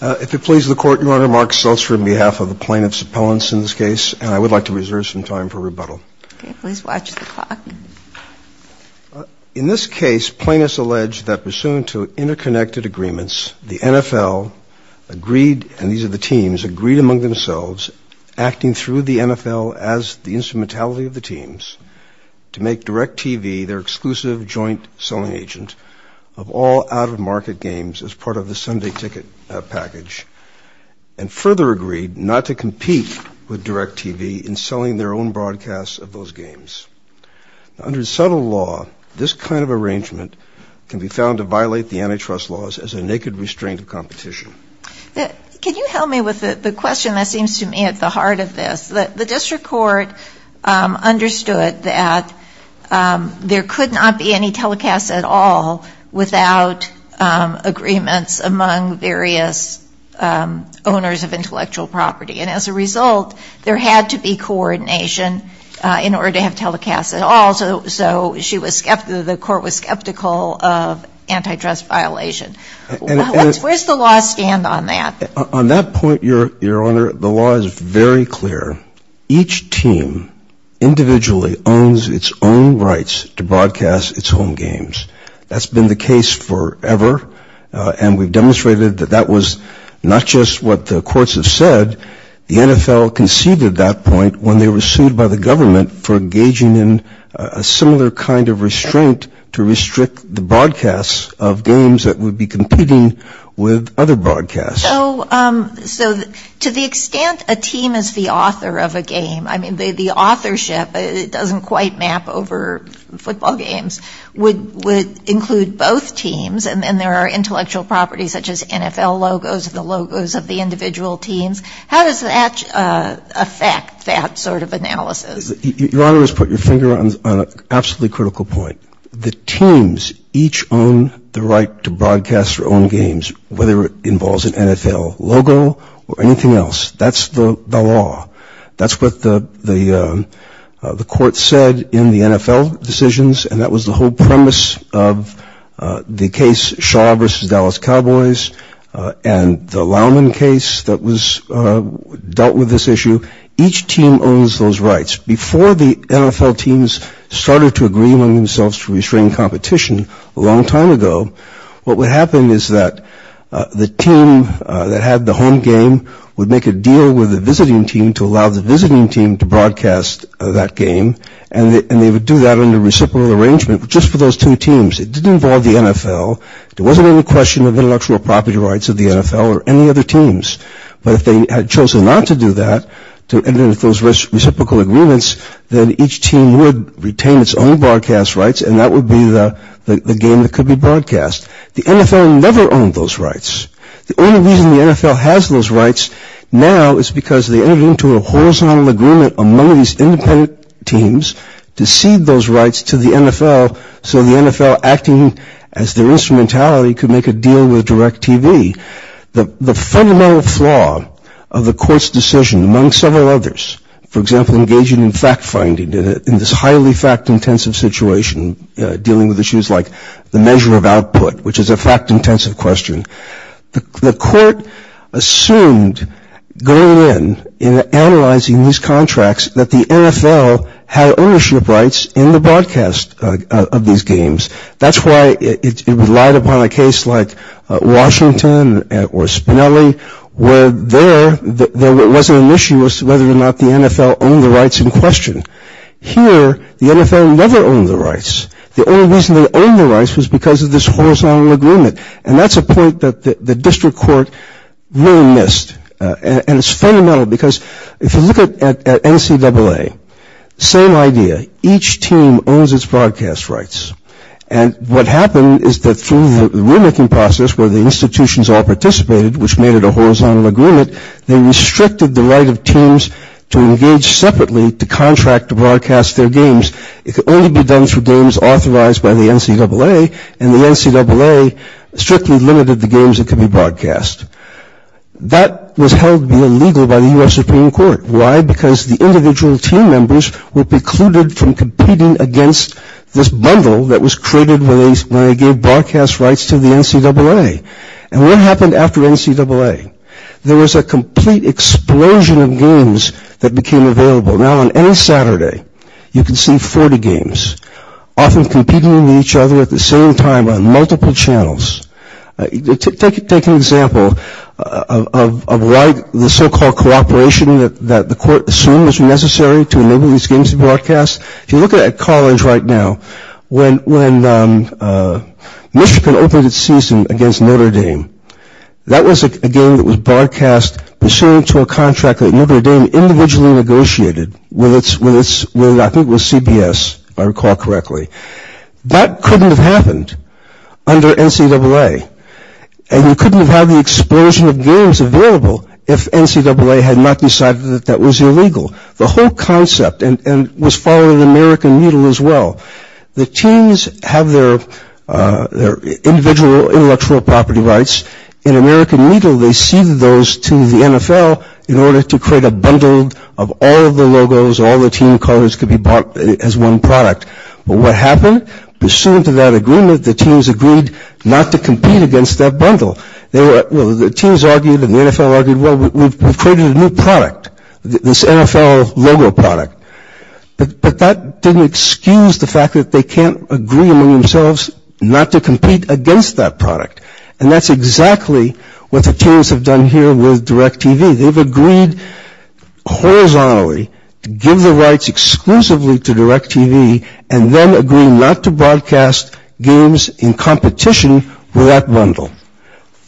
If it pleases the Court, Your Honor, Mark Seltzer on behalf of the plaintiffs' appellants in this case, and I would like to reserve some time for rebuttal. Okay. Please watch the clock. In this case, plaintiffs allege that pursuant to interconnected agreements, the NFL agreed, and these are the teams, agreed among themselves, acting through the NFL as the instrumentality of the teams, to make DIRECTV their exclusive joint-selling agent of all out-of-market games as part of the Sunday ticket package, and further agreed not to compete with DIRECTV in selling their own broadcasts of those games. Under subtle law, this kind of arrangement can be found to violate the antitrust laws as a naked restraint of competition. Can you help me with the question that seems to me at the heart of this? The district court understood that there could not be any telecasts at all without agreements among various owners of intellectual property, and as a result, there had to be coordination in order to have telecasts at all, so the court was skeptical of antitrust violation. Where does the law stand on that? On that point, Your Honor, the law is very clear. Each team individually owns its own rights to broadcast its own games. That's been the case forever, and we've demonstrated that that was not just what the courts have said. The NFL conceded that point when they were sued by the government for engaging in a similar kind of restraint to restrict the broadcasts of games that would be competing with other broadcasts. So to the extent a team is the author of a game, I mean, the authorship doesn't quite map over football games, would include both teams, and there are intellectual properties such as NFL logos, the logos of the individual teams. How does that affect that sort of analysis? Your Honor has put your finger on an absolutely critical point. The teams each own the right to broadcast their own games, whether it involves an NFL logo or anything else. That's the law. That's what the court said in the NFL decisions, and that was the whole premise of the case Shaw v. Dallas Cowboys and the Lowman case that dealt with this issue. Each team owns those rights. Before the NFL teams started to agree among themselves to restrain competition a long time ago, what would happen is that the team that had the home game would make a deal with the visiting team to allow the visiting team to broadcast that game, and they would do that under reciprocal arrangement just for those two teams. It didn't involve the NFL. There wasn't any question of intellectual property rights of the NFL or any other teams, but if they had chosen not to do that, to enter into those reciprocal agreements, then each team would retain its own broadcast rights, and that would be the game that could be broadcast. The NFL never owned those rights. The only reason the NFL has those rights now is because they entered into a horizontal agreement among these independent teams to cede those rights to the NFL so the NFL, acting as their instrumentality, could make a deal with DirecTV. The fundamental flaw of the court's decision, among several others, for example, engaging in fact-finding in this highly fact-intensive situation dealing with issues like the measure of output, which is a fact-intensive question, the court assumed going in and analyzing these contracts that the NFL had ownership rights in the broadcast of these games. That's why it relied upon a case like Washington or Spinelli where there wasn't an issue as to whether or not the NFL owned the rights in question. Here, the NFL never owned the rights. The only reason they owned the rights was because of this horizontal agreement, and that's a point that the district court really missed, and it's fundamental because if you look at NCAA, same idea. Each team owns its broadcast rights, and what happened is that through the rulemaking process where the institutions all participated, which made it a horizontal agreement, they restricted the right of teams to engage separately to contract to broadcast their games. It could only be done through games authorized by the NCAA, and the NCAA strictly limited the games that could be broadcast. That was held to be illegal by the U.S. Supreme Court. Why? Because the individual team members were precluded from competing against this bundle that was created when they gave broadcast rights to the NCAA. And what happened after NCAA? There was a complete explosion of games that became available. Now, on any Saturday, you can see 40 games often competing with each other at the same time on multiple channels. Take an example of why the so-called cooperation that the court assumed was necessary to enable these games to be broadcast. If you look at college right now, when Michigan opened its season against Notre Dame, that was a game that was broadcast, pursuant to a contract that Notre Dame individually negotiated with, I think it was CBS, if I recall correctly. That couldn't have happened under NCAA, and you couldn't have had the explosion of games available if NCAA had not decided that that was illegal. The whole concept was following the American Moodle as well. The teams have their individual intellectual property rights. In American Moodle, they ceded those to the NFL in order to create a bundle of all of the logos, all the team colors could be bought as one product. But what happened? Pursuant to that agreement, the teams agreed not to compete against that bundle. The teams argued and the NFL argued, well, we've created a new product, this NFL logo product. But that didn't excuse the fact that they can't agree among themselves not to compete against that product. And that's exactly what the teams have done here with DirecTV. They've agreed horizontally to give the rights exclusively to DirecTV and then agree not to broadcast games in competition with that bundle.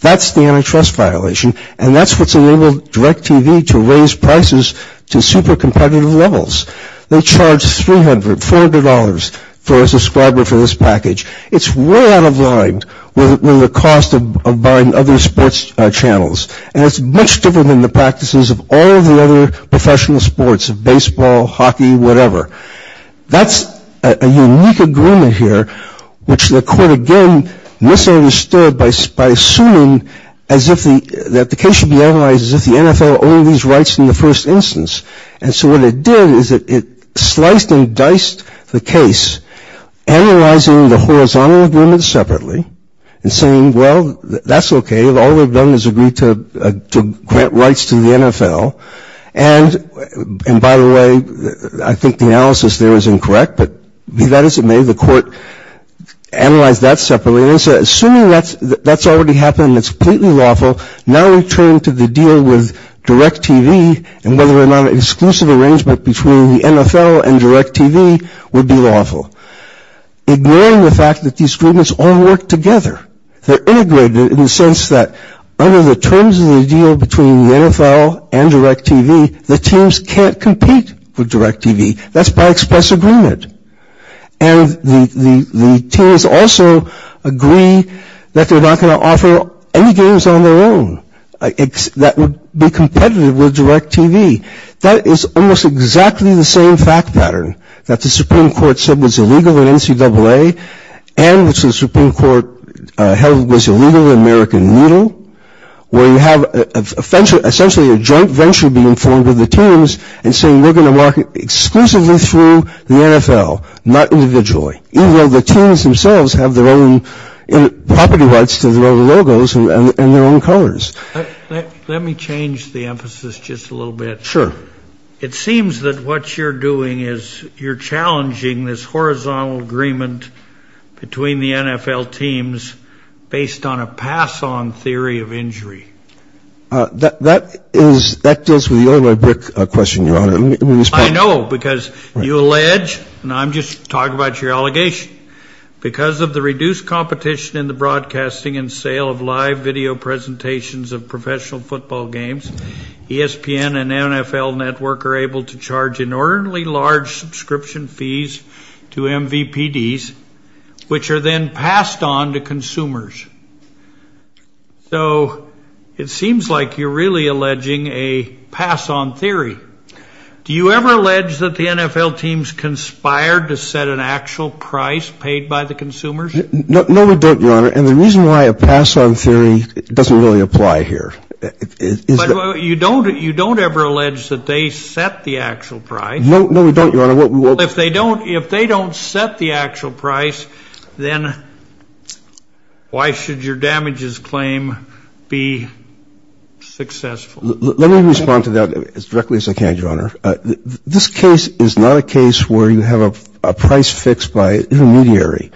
That's the antitrust violation, and that's what's enabled DirecTV to raise prices to super competitive levels. They charge $300, $400 for a subscriber for this package. It's way out of line with the cost of buying other sports channels, and it's much different than the practices of all of the other professional sports, baseball, hockey, whatever. That's a unique agreement here, which the court again misunderstood by assuming that the case should be analyzed as if the NFL owned these rights in the first instance. And so what it did is it sliced and diced the case, analyzing the horizontal agreement separately, and saying, well, that's okay, all we've done is agreed to grant rights to the NFL. And by the way, I think the analysis there is incorrect, but be that as it may, the court analyzed that separately and said assuming that's already happened and it's completely lawful, now we turn to the deal with DirecTV and whether or not an exclusive arrangement between the NFL and DirecTV would be lawful, ignoring the fact that these agreements all work together. They're integrated in the sense that under the terms of the deal between the NFL and DirecTV, the teams can't compete with DirecTV. That's by express agreement. And the teams also agree that they're not going to offer any games on their own that would be competitive with DirecTV. That is almost exactly the same fact pattern that the Supreme Court said was illegal in NCAA and which the Supreme Court held was illegal in American Needle, where you have essentially a joint venture being formed with the teams and saying we're going to market exclusively through the NFL, not individually, even though the teams themselves have their own property rights to their own logos and their own colors. Let me change the emphasis just a little bit. Sure. It seems that what you're doing is you're challenging this horizontal agreement between the NFL teams based on a pass-on theory of injury. That deals with the only brick question, Your Honor. I know, because you allege, and I'm just talking about your allegation, because of the reduced competition in the broadcasting and sale of live video presentations of professional football games, ESPN and NFL Network are able to charge inordinately large subscription fees to MVPDs, which are then passed on to consumers. So it seems like you're really alleging a pass-on theory. Do you ever allege that the NFL teams conspired to set an actual price paid by the consumers? No, we don't, Your Honor. And the reason why a pass-on theory doesn't really apply here is that you don't ever allege that they set the actual price. No, we don't, Your Honor. If they don't set the actual price, then why should your damages claim be successful? Let me respond to that as directly as I can, Your Honor. This case is not a case where you have a price fixed by an intermediary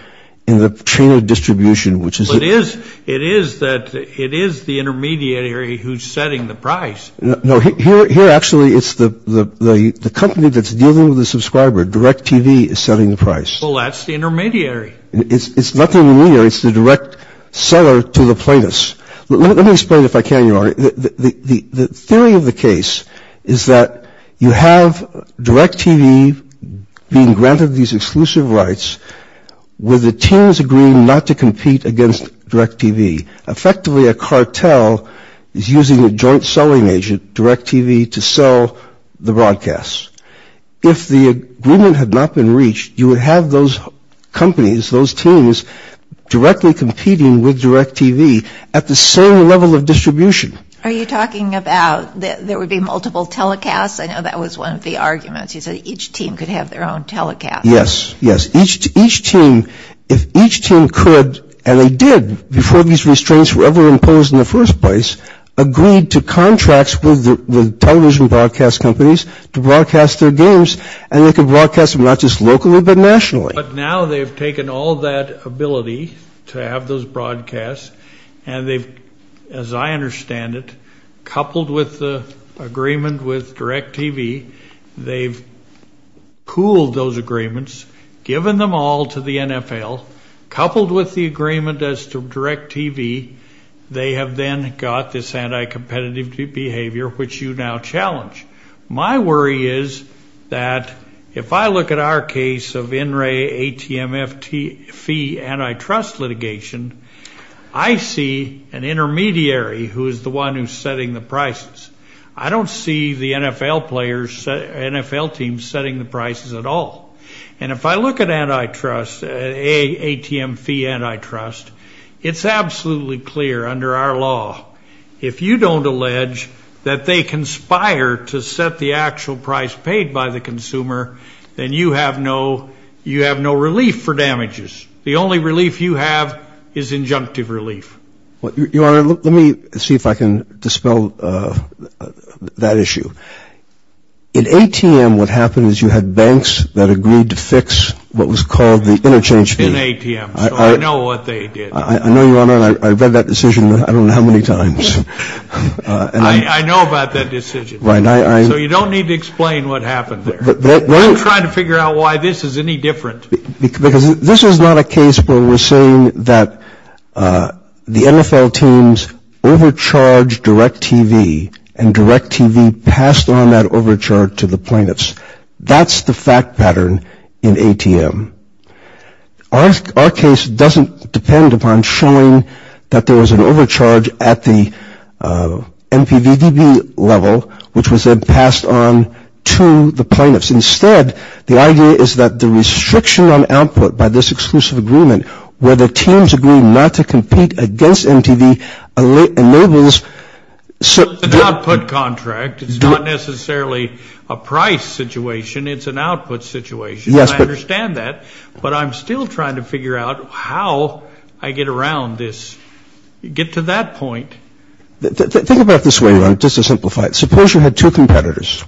in the chain of distribution. It is the intermediary who's setting the price. No, here, actually, it's the company that's dealing with the subscriber. DirecTV is setting the price. Well, that's the intermediary. It's not the intermediary. It's the direct seller to the plaintiffs. Let me explain, if I can, Your Honor. The theory of the case is that you have DirecTV being granted these exclusive rights with the teams agreeing not to compete against DirecTV. Effectively, a cartel is using a joint selling agent, DirecTV, to sell the broadcasts. If the agreement had not been reached, you would have those companies, those teams, directly competing with DirecTV at the same level of distribution. Are you talking about there would be multiple telecasts? I know that was one of the arguments. You said each team could have their own telecast. Yes, yes. Each team, if each team could, and they did before these restraints were ever imposed in the first place, agreed to contracts with the television broadcast companies to broadcast their games, and they could broadcast them not just locally but nationally. But now they've taken all that ability to have those broadcasts, and they've, as I understand it, coupled with the agreement with DirecTV, they've pooled those agreements, given them all to the NFL, coupled with the agreement as to DirecTV, they have then got this anti-competitive behavior, which you now challenge. My worry is that if I look at our case of in-ray ATM fee antitrust litigation, I see an intermediary who is the one who's setting the prices. I don't see the NFL players, NFL teams, setting the prices at all. And if I look at antitrust, ATM fee antitrust, it's absolutely clear under our law, if you don't allege that they conspire to set the actual price paid by the consumer, then you have no relief for damages. The only relief you have is injunctive relief. Your Honor, let me see if I can dispel that issue. In ATM, what happened is you had banks that agreed to fix what was called the interchange fee. In ATM, so I know what they did. I know, Your Honor, and I've read that decision I don't know how many times. I know about that decision. Right. So you don't need to explain what happened there. I'm trying to figure out why this is any different. Because this is not a case where we're saying that the NFL teams overcharge DirecTV and DirecTV passed on that overcharge to the plaintiffs. That's the fact pattern in ATM. Our case doesn't depend upon showing that there was an overcharge at the MPVDB level, which was then passed on to the plaintiffs. Instead, the idea is that the restriction on output by this exclusive agreement where the teams agree not to compete against MTV enables. It's an output contract. It's not necessarily a price situation. It's an output situation. I understand that. But I'm still trying to figure out how I get around this, get to that point. Think about it this way, Your Honor, just to simplify it. Suppose you had two competitors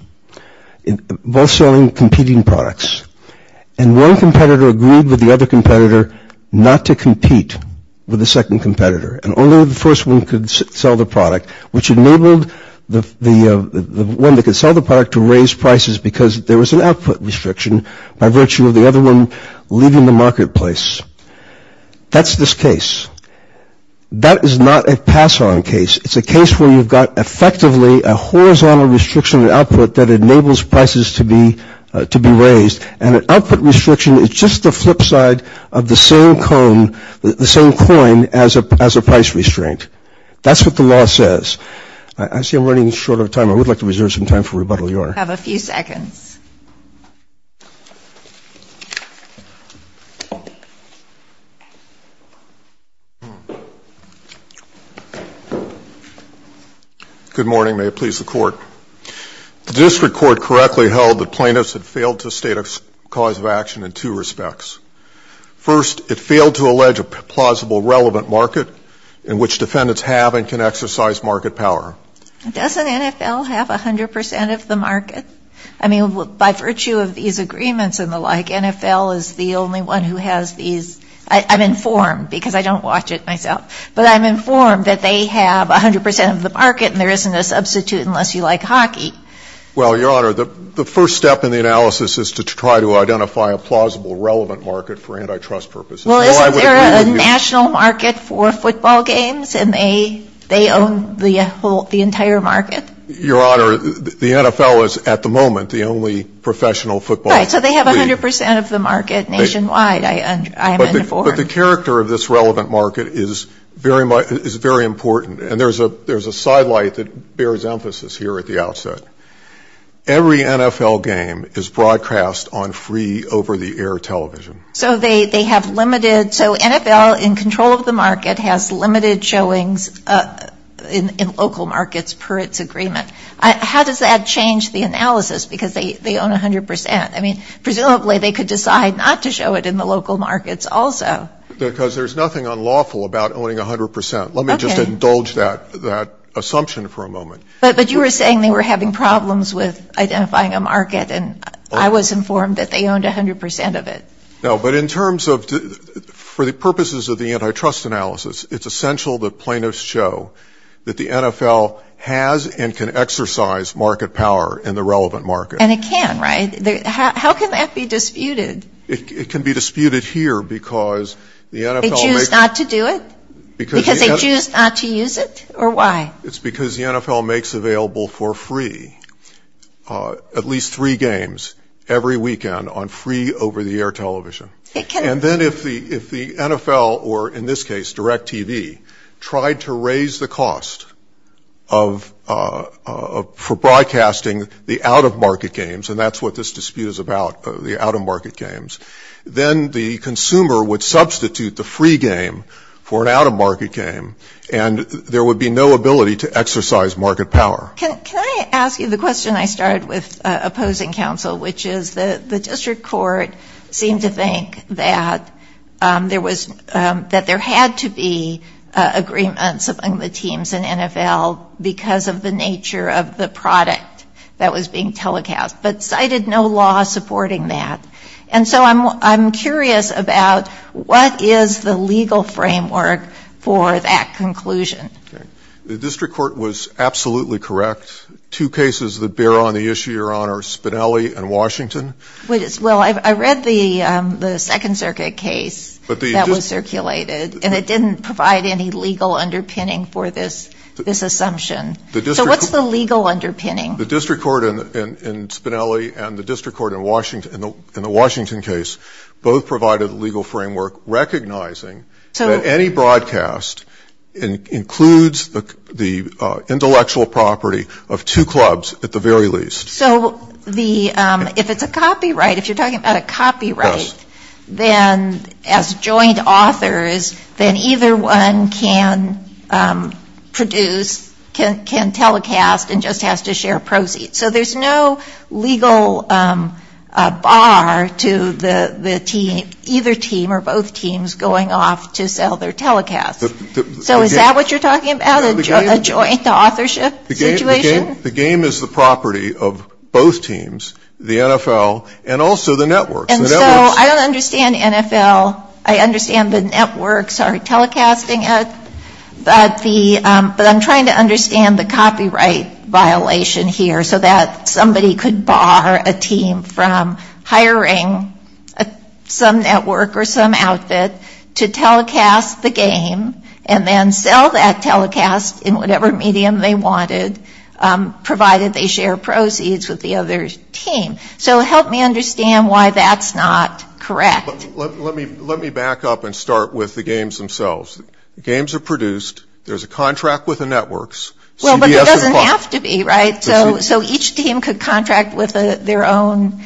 both selling competing products, and one competitor agreed with the other competitor not to compete with the second competitor, and only the first one could sell the product, which enabled the one that could sell the product to raise prices because there was an output restriction by virtue of the other one leaving the marketplace. That's this case. That is not a pass-on case. It's a case where you've got effectively a horizontal restriction of output that enables prices to be raised. And an output restriction is just the flip side of the same coin as a price restraint. That's what the law says. I see I'm running short of time. I would like to reserve some time for rebuttal, Your Honor. I have a few seconds. Good morning. May it please the Court. The district court correctly held that plaintiffs had failed to state a cause of action in two respects. First, it failed to allege a plausible relevant market in which defendants have and can exercise market power. Doesn't NFL have 100 percent of the market? I mean, by virtue of these agreements and the like, NFL is the only one who has these. I'm informed because I don't watch it myself. But I'm informed that they have 100 percent of the market and there isn't a substitute unless you like hockey. Well, Your Honor, the first step in the analysis is to try to identify a plausible relevant market for antitrust purposes. Well, isn't there a national market for football games and they own the entire market? Your Honor, the NFL is at the moment the only professional football league. Right. So they have 100 percent of the market nationwide, I'm informed. But the character of this relevant market is very important. And there's a side light that bears emphasis here at the outset. Every NFL game is broadcast on free over-the-air television. So they have limited so NFL in control of the market has limited showings in local markets per its agreement. How does that change the analysis because they own 100 percent? I mean, presumably they could decide not to show it in the local markets also. Because there's nothing unlawful about owning 100 percent. Let me just indulge that assumption for a moment. But you were saying they were having problems with identifying a market and I was informed that they owned 100 percent of it. No, but in terms of for the purposes of the antitrust analysis, it's essential that plaintiffs show that the NFL has and can exercise market power in the relevant market. And it can, right? How can that be disputed? It can be disputed here because the NFL makes. They choose not to do it? Because the NFL. Because they choose not to use it or why? It's because the NFL makes available for free at least three games every weekend on free over-the-air television. And then if the NFL, or in this case, direct TV, tried to raise the cost for broadcasting the out-of-market games, and that's what this dispute is about, the out-of-market games, then the consumer would substitute the free game for an out-of-market game and there would be no ability to exercise market power. Can I ask you the question I started with opposing counsel, which is the district court seemed to think that there had to be agreements among the teams in NFL because of the nature of the product that was being telecast, but cited no law supporting that. And so I'm curious about what is the legal framework for that conclusion? The district court was absolutely correct. Two cases that bear on the issue you're on are Spinelli and Washington. Well, I read the Second Circuit case that was circulated and it didn't provide any legal underpinning for this assumption. So what's the legal underpinning? The district court in Spinelli and the district court in the Washington case both provided a legal framework recognizing that any broadcast includes the intellectual property of two clubs at the very least. So if it's a copyright, if you're talking about a copyright, then as joint authors, then either one can produce, can telecast and just has to share proceeds. So there's no legal bar to either team or both teams going off to sell their telecasts. So is that what you're talking about, a joint authorship situation? The game is the property of both teams, the NFL and also the networks. And so I don't understand NFL. I understand the networks are telecasting it, but I'm trying to understand the copyright violation here so that somebody could bar a team from hiring some network or some outfit to telecast the game and then sell that telecast in whatever medium they wanted, provided they share proceeds with the other team. So help me understand why that's not correct. Let me back up and start with the games themselves. The games are produced. There's a contract with the networks. Well, but there doesn't have to be, right? So each team could contract with their own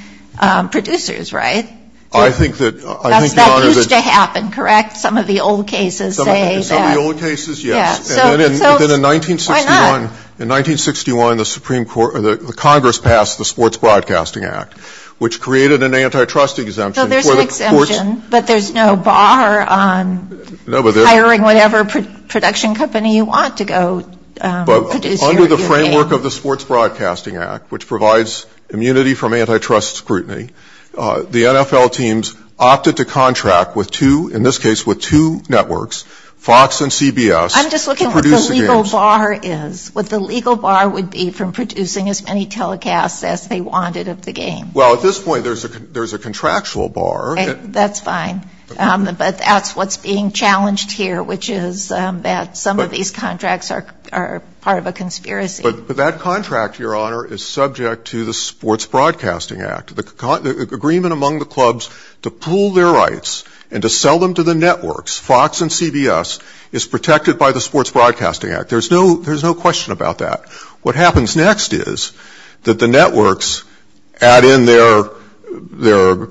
producers, right? I think that – That used to happen, correct? Some of the old cases say that. Some of the old cases, yes. And then in 1961 – Why not? In 1961, the Congress passed the Sports Broadcasting Act, which created an antitrust exemption. So there's an exemption, but there's no bar on hiring whatever production company you want to go produce your game. But under the framework of the Sports Broadcasting Act, which provides immunity from antitrust scrutiny, the NFL teams opted to contract with two – in this case with two networks, Fox and CBS, to produce the games. I'm just looking at what the legal bar is, what the legal bar would be from producing as many telecasts as they wanted of the game. Well, at this point, there's a contractual bar. That's fine. But that's what's being challenged here, which is that some of these contracts are part of a conspiracy. But that contract, Your Honor, is subject to the Sports Broadcasting Act. The agreement among the clubs to pool their rights and to sell them to the networks, Fox and CBS, is protected by the Sports Broadcasting Act. There's no question about that. What happens next is that the networks add in their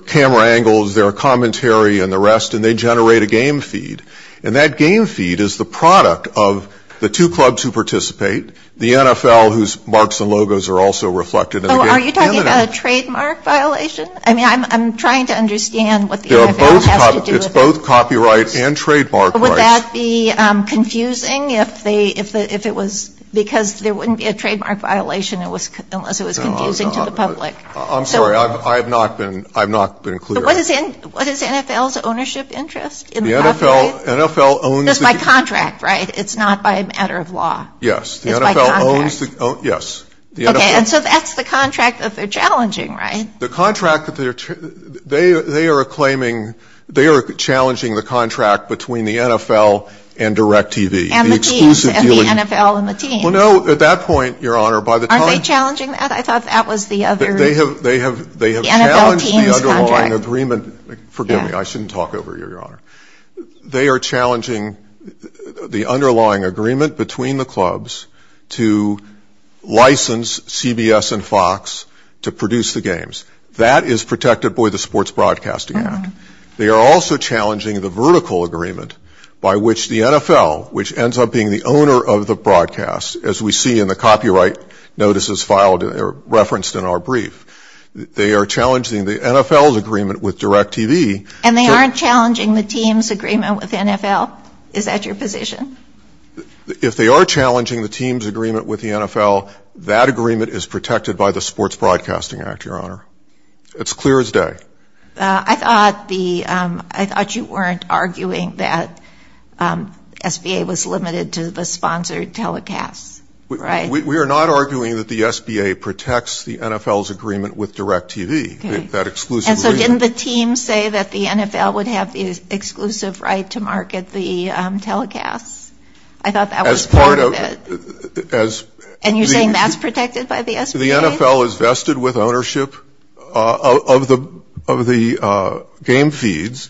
camera angles, their commentary, and the rest, and they generate a game feed. And that game feed is the product of the two clubs who participate, the NFL, whose marks and logos are also reflected in the game. So are you talking about a trademark violation? It's both copyright and trademark rights. Would that be confusing if it was because there wouldn't be a trademark violation unless it was confusing to the public? I'm sorry. I have not been clear. But what is NFL's ownership interest in the copyright? The NFL owns the game. That's by contract, right? It's not by a matter of law. Yes. It's by contract. Yes. Okay. And so that's the contract that they're challenging, right? They are challenging the contract between the NFL and DirecTV. And the teams. The exclusive dealings. And the NFL and the teams. Well, no, at that point, Your Honor, by the time... Aren't they challenging that? I thought that was the other... They have challenged the underlying agreement. The NFL teams contract. Forgive me. I shouldn't talk over you, Your Honor. They are challenging the underlying agreement between the clubs to license CBS and Fox to produce the games. That is protected by the Sports Broadcasting Act. They are also challenging the vertical agreement by which the NFL, which ends up being the owner of the broadcast, as we see in the copyright notices referenced in our brief, they are challenging the NFL's agreement with DirecTV... And they aren't challenging the team's agreement with the NFL? Is that your position? If they are challenging the team's agreement with the NFL, that agreement is protected by the Sports Broadcasting Act, Your Honor. It's clear as day. I thought you weren't arguing that SBA was limited to the sponsored telecasts, right? We are not arguing that the SBA protects the NFL's agreement with DirecTV, that exclusive agreement. And so didn't the team say that the NFL would have the exclusive right to market the telecasts? I thought that was part of it. And you're saying that's protected by the SBA? The NFL is vested with ownership of the game feeds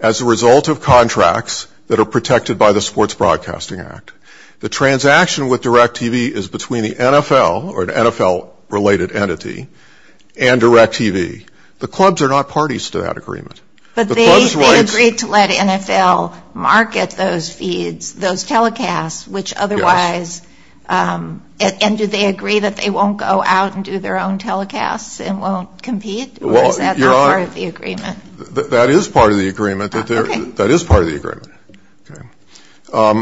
as a result of contracts that are protected by the Sports Broadcasting Act. The transaction with DirecTV is between the NFL or an NFL-related entity and DirecTV. The clubs are not parties to that agreement. But they agreed to let NFL market those feeds, those telecasts, which otherwise... And do they agree that they won't go out and do their own telecasts and won't compete? Or is that not part of the agreement? That is part of the agreement. Your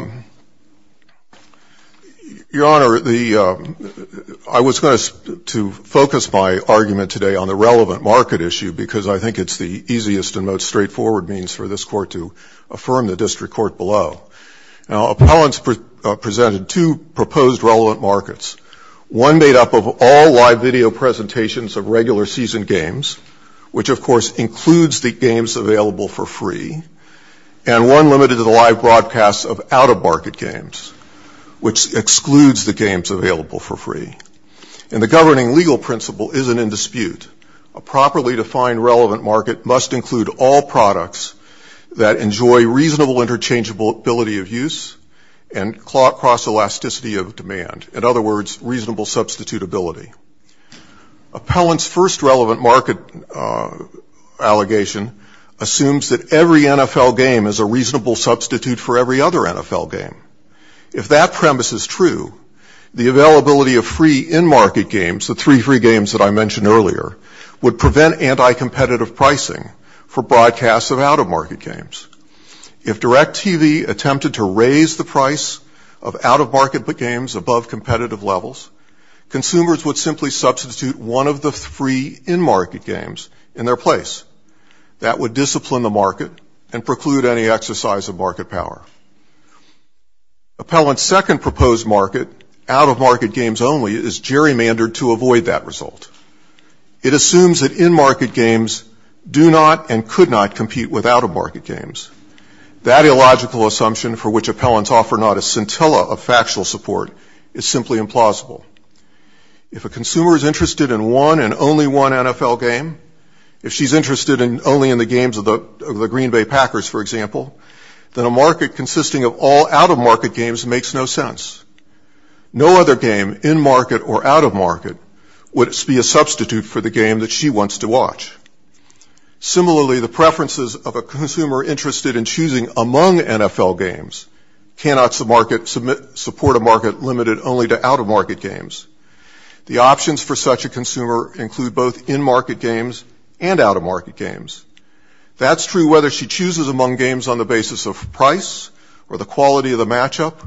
Honor, I was going to focus my argument today on the relevant market issue because I think it's the easiest and most straightforward means for this Court to affirm the District Court below. Now, appellants presented two proposed relevant markets, one made up of all live video presentations of regular season games, which of course includes the games available for free, and one limited to the live broadcasts of out-of-market games, which excludes the games available for free. And the governing legal principle isn't in dispute. A properly defined relevant market must include all products that enjoy reasonable interchangeability of use and cross-elasticity of demand. In other words, reasonable substitutability. Appellants' first relevant market allegation assumes that every NFL game is a reasonable substitute for every other NFL game. If that premise is true, the availability of free in-market games, the three free games that I mentioned earlier, would prevent anti-competitive pricing for broadcasts of out-of-market games. If DirecTV attempted to raise the price of out-of-market games above competitive levels, consumers would simply substitute one of the free in-market games in their place. That would discipline the market and preclude any exercise of market power. Appellants' second proposed market, out-of-market games only, is gerrymandered to avoid that result. It assumes that in-market games do not and could not compete with out-of-market games. That illogical assumption, for which appellants offer not a scintilla of factual support, is simply implausible. If a consumer is interested in one and only one NFL game, if she's interested only in the games of the Green Bay Packers, for example, then a market consisting of all out-of-market games makes no sense. No other game, in-market or out-of-market, would be a substitute for the game that she wants to watch. Similarly, the preferences of a consumer interested in choosing among NFL games cannot support a market limited only to out-of-market games. The options for such a consumer include both in-market games and out-of-market games. That's true whether she chooses among games on the basis of price or the quality of the matchup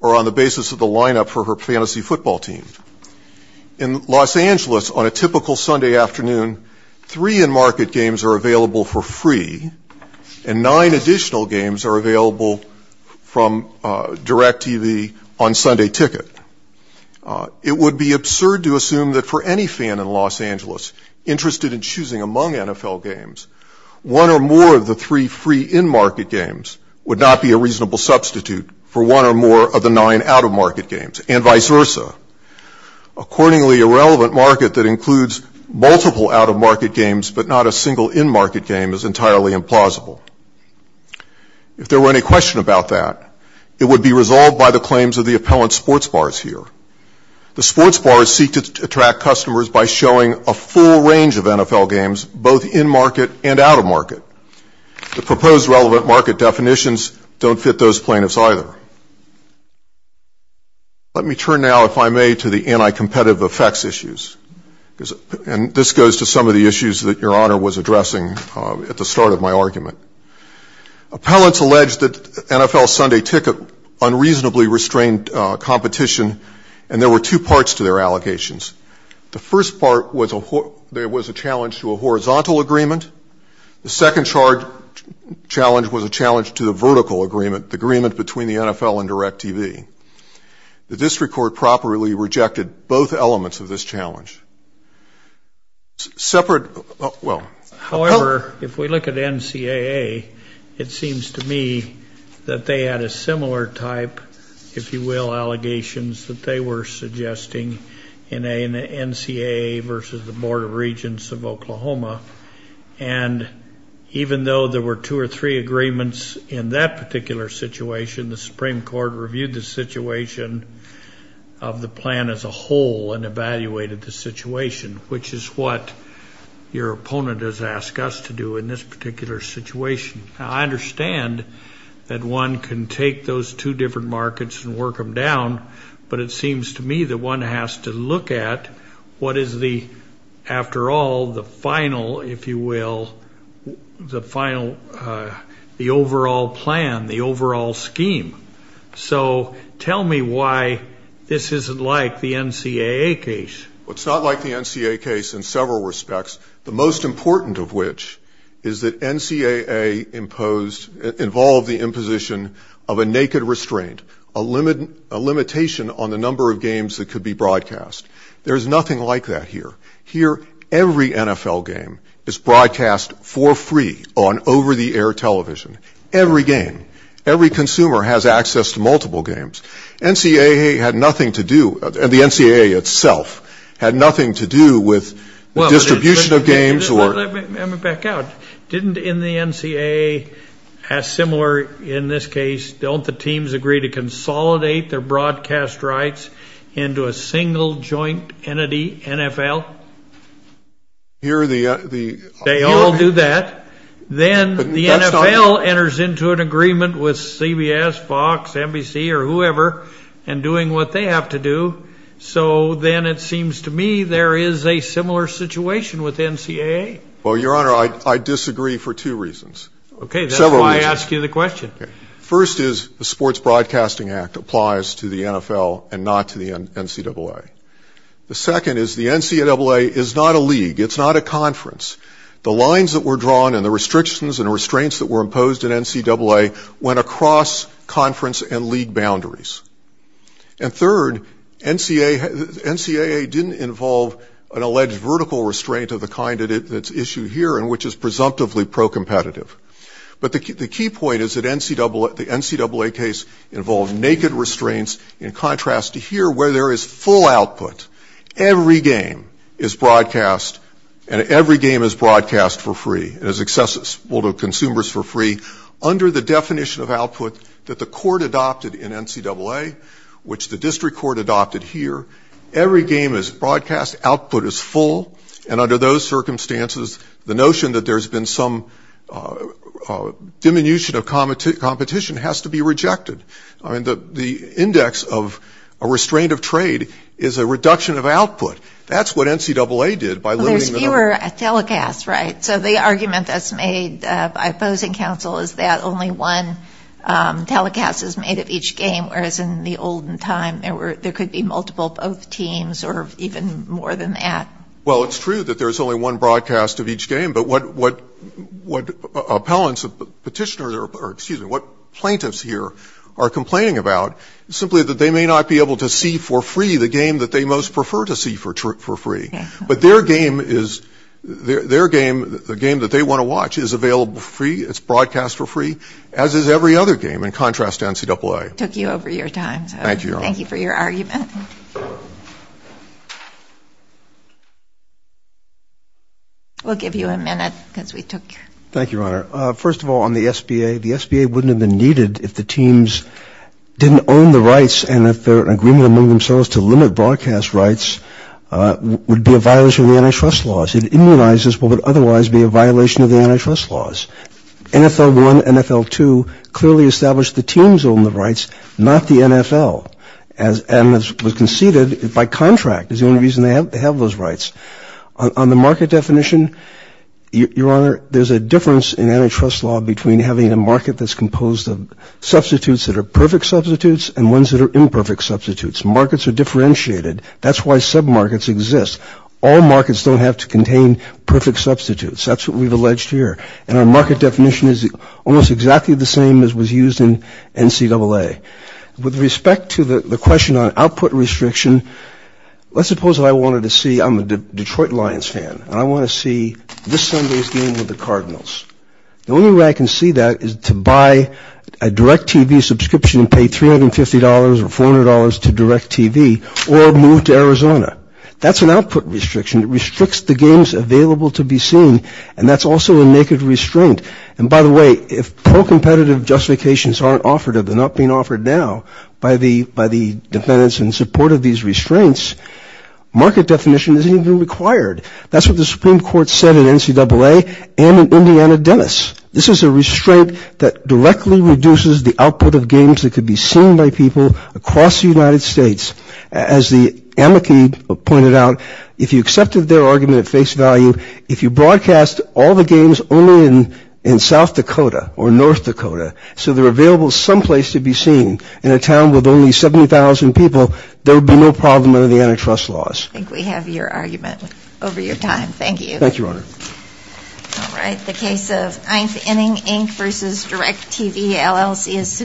or on the basis of the lineup for her fantasy football team. In Los Angeles, on a typical Sunday afternoon, three in-market games are available for free and nine additional games are available from DirecTV on Sunday ticket. It would be absurd to assume that for any fan in Los Angeles interested in choosing among NFL games, one or more of the three free in-market games would not be a reasonable substitute for one or more of the nine out-of-market games, and vice versa. Accordingly, a relevant market that includes multiple out-of-market games but not a single in-market game is entirely implausible. If there were any question about that, it would be resolved by the claims of the appellant sports bars here. The sports bars seek to attract customers by showing a full range of NFL games both in-market and out-of-market. The proposed relevant market definitions don't fit those plaintiffs either. Let me turn now, if I may, to the anti-competitive effects issues. And this goes to some of the issues that Your Honor was addressing at the start of my argument. Appellants alleged that NFL Sunday ticket unreasonably restrained competition, and there were two parts to their allegations. The first part was there was a challenge to a horizontal agreement. The second challenge was a challenge to the vertical agreement, the agreement between the NFL and DirecTV. The district court properly rejected both elements of this challenge. However, if we look at NCAA, it seems to me that they had a similar type, if you will, allegations that they were suggesting in NCAA versus the Board of Regents of Oklahoma. And even though there were two or three agreements in that particular situation, the Supreme Court reviewed the situation of the plan as a whole and evaluated the situation, which is what your opponent has asked us to do in this particular situation. I understand that one can take those two different markets and work them down, but it seems to me that one has to look at what is the, after all, the final, if you will, the overall plan, the overall scheme. So tell me why this isn't like the NCAA case. Well, it's not like the NCAA case in several respects, the most important of which is that NCAA imposed, involved the imposition of a naked restraint, a limitation on the number of games that could be broadcast. There's nothing like that here. Here, every NFL game is broadcast for free on over-the-air television, every game. Every consumer has access to multiple games. NCAA had nothing to do, the NCAA itself had nothing to do with the distribution of games or... Let me back out. Didn't, in the NCAA, as similar in this case, don't the teams agree to consolidate their broadcast rights into a single joint entity, NFL? Here, the... They all do that. Then the NFL enters into an agreement with CBS, Fox, NBC, or whoever, and doing what they have to do. So then it seems to me there is a similar situation with NCAA. Well, Your Honor, I disagree for two reasons. Several reasons. First is the Sports Broadcasting Act applies to the NFL and not to the NCAA. The second is the NCAA is not a league, it's not a conference. The lines that were drawn and the restrictions and restraints that were imposed in NCAA went across conference and league boundaries. And third, NCAA didn't involve an alleged vertical restraint of the kind that's issued here and which is presumptively pro-competitive. But the key point is that the NCAA case involved naked restraints in contrast to here where there is full output, every game is broadcast and every game is broadcast for free and is accessible to consumers for free under the definition of output that the court adopted in NCAA, which the district court adopted here. Every game is broadcast, output is full, and under those circumstances, the notion that there's been some diminution of competition has to be rejected. I mean, the index of a restraint of trade is a reduction of output. That's what NCAA did by limiting the number. Well, there's fewer telecasts, right? So the argument that's made by opposing counsel is that only one telecast is made of each game, whereas in the olden time there could be multiple both teams or even more than that. Well, it's true that there's only one broadcast of each game, but what plaintiffs here are complaining about is simply that they may not be able to see for free the game that they most prefer to see for free. But their game, the game that they want to watch, is available for free, it's broadcast for free, as is every other game in contrast to NCAA. Thank you for your argument. We'll give you a minute because we took... Thank you, Your Honor. First of all, on the SBA, the SBA wouldn't have been needed if the teams didn't own the rights and if their agreement among themselves to limit broadcast rights would be a violation of the antitrust laws. It immunizes what would otherwise be a violation of the antitrust laws. NFL 1, NFL 2 clearly established the teams own the rights, not the NFL. And as was conceded, by contract is the only reason they have those rights. On the market definition, Your Honor, there's a difference in antitrust law between having a market that's composed of substitutes that are perfect substitutes and ones that are imperfect substitutes. Markets are differentiated, that's why submarkets exist. All markets don't have to contain perfect substitutes, that's what we've alleged here. And our market definition is almost exactly the same as was used in NCAA. With respect to the question on output restriction, let's suppose that I wanted to see, I'm a Detroit Lions fan, and I want to see this Sunday's game with the Cardinals. The only way I can see that is to buy a DirecTV subscription and pay $350 or $400 to DirecTV or move to Arizona. That's an output restriction, it restricts the games available to be seen, and that's also a naked restraint. And by the way, if pro-competitive justifications aren't offered, they're not being offered now by the defendants in support of these restraints, market definition isn't even required. That's what the Supreme Court said in NCAA and in Indiana Dennis. This is a restraint that directly reduces the output of games that could be seen by people across the United States. As the amici pointed out, if you accepted their argument at face value, if you broadcast all the games only in South Dakota or North Dakota so they're available someplace to be seen in a town with only 70,000 people, there would be no problem under the antitrust laws. I think we have your argument over your time. Thank you. Thank you, Your Honor.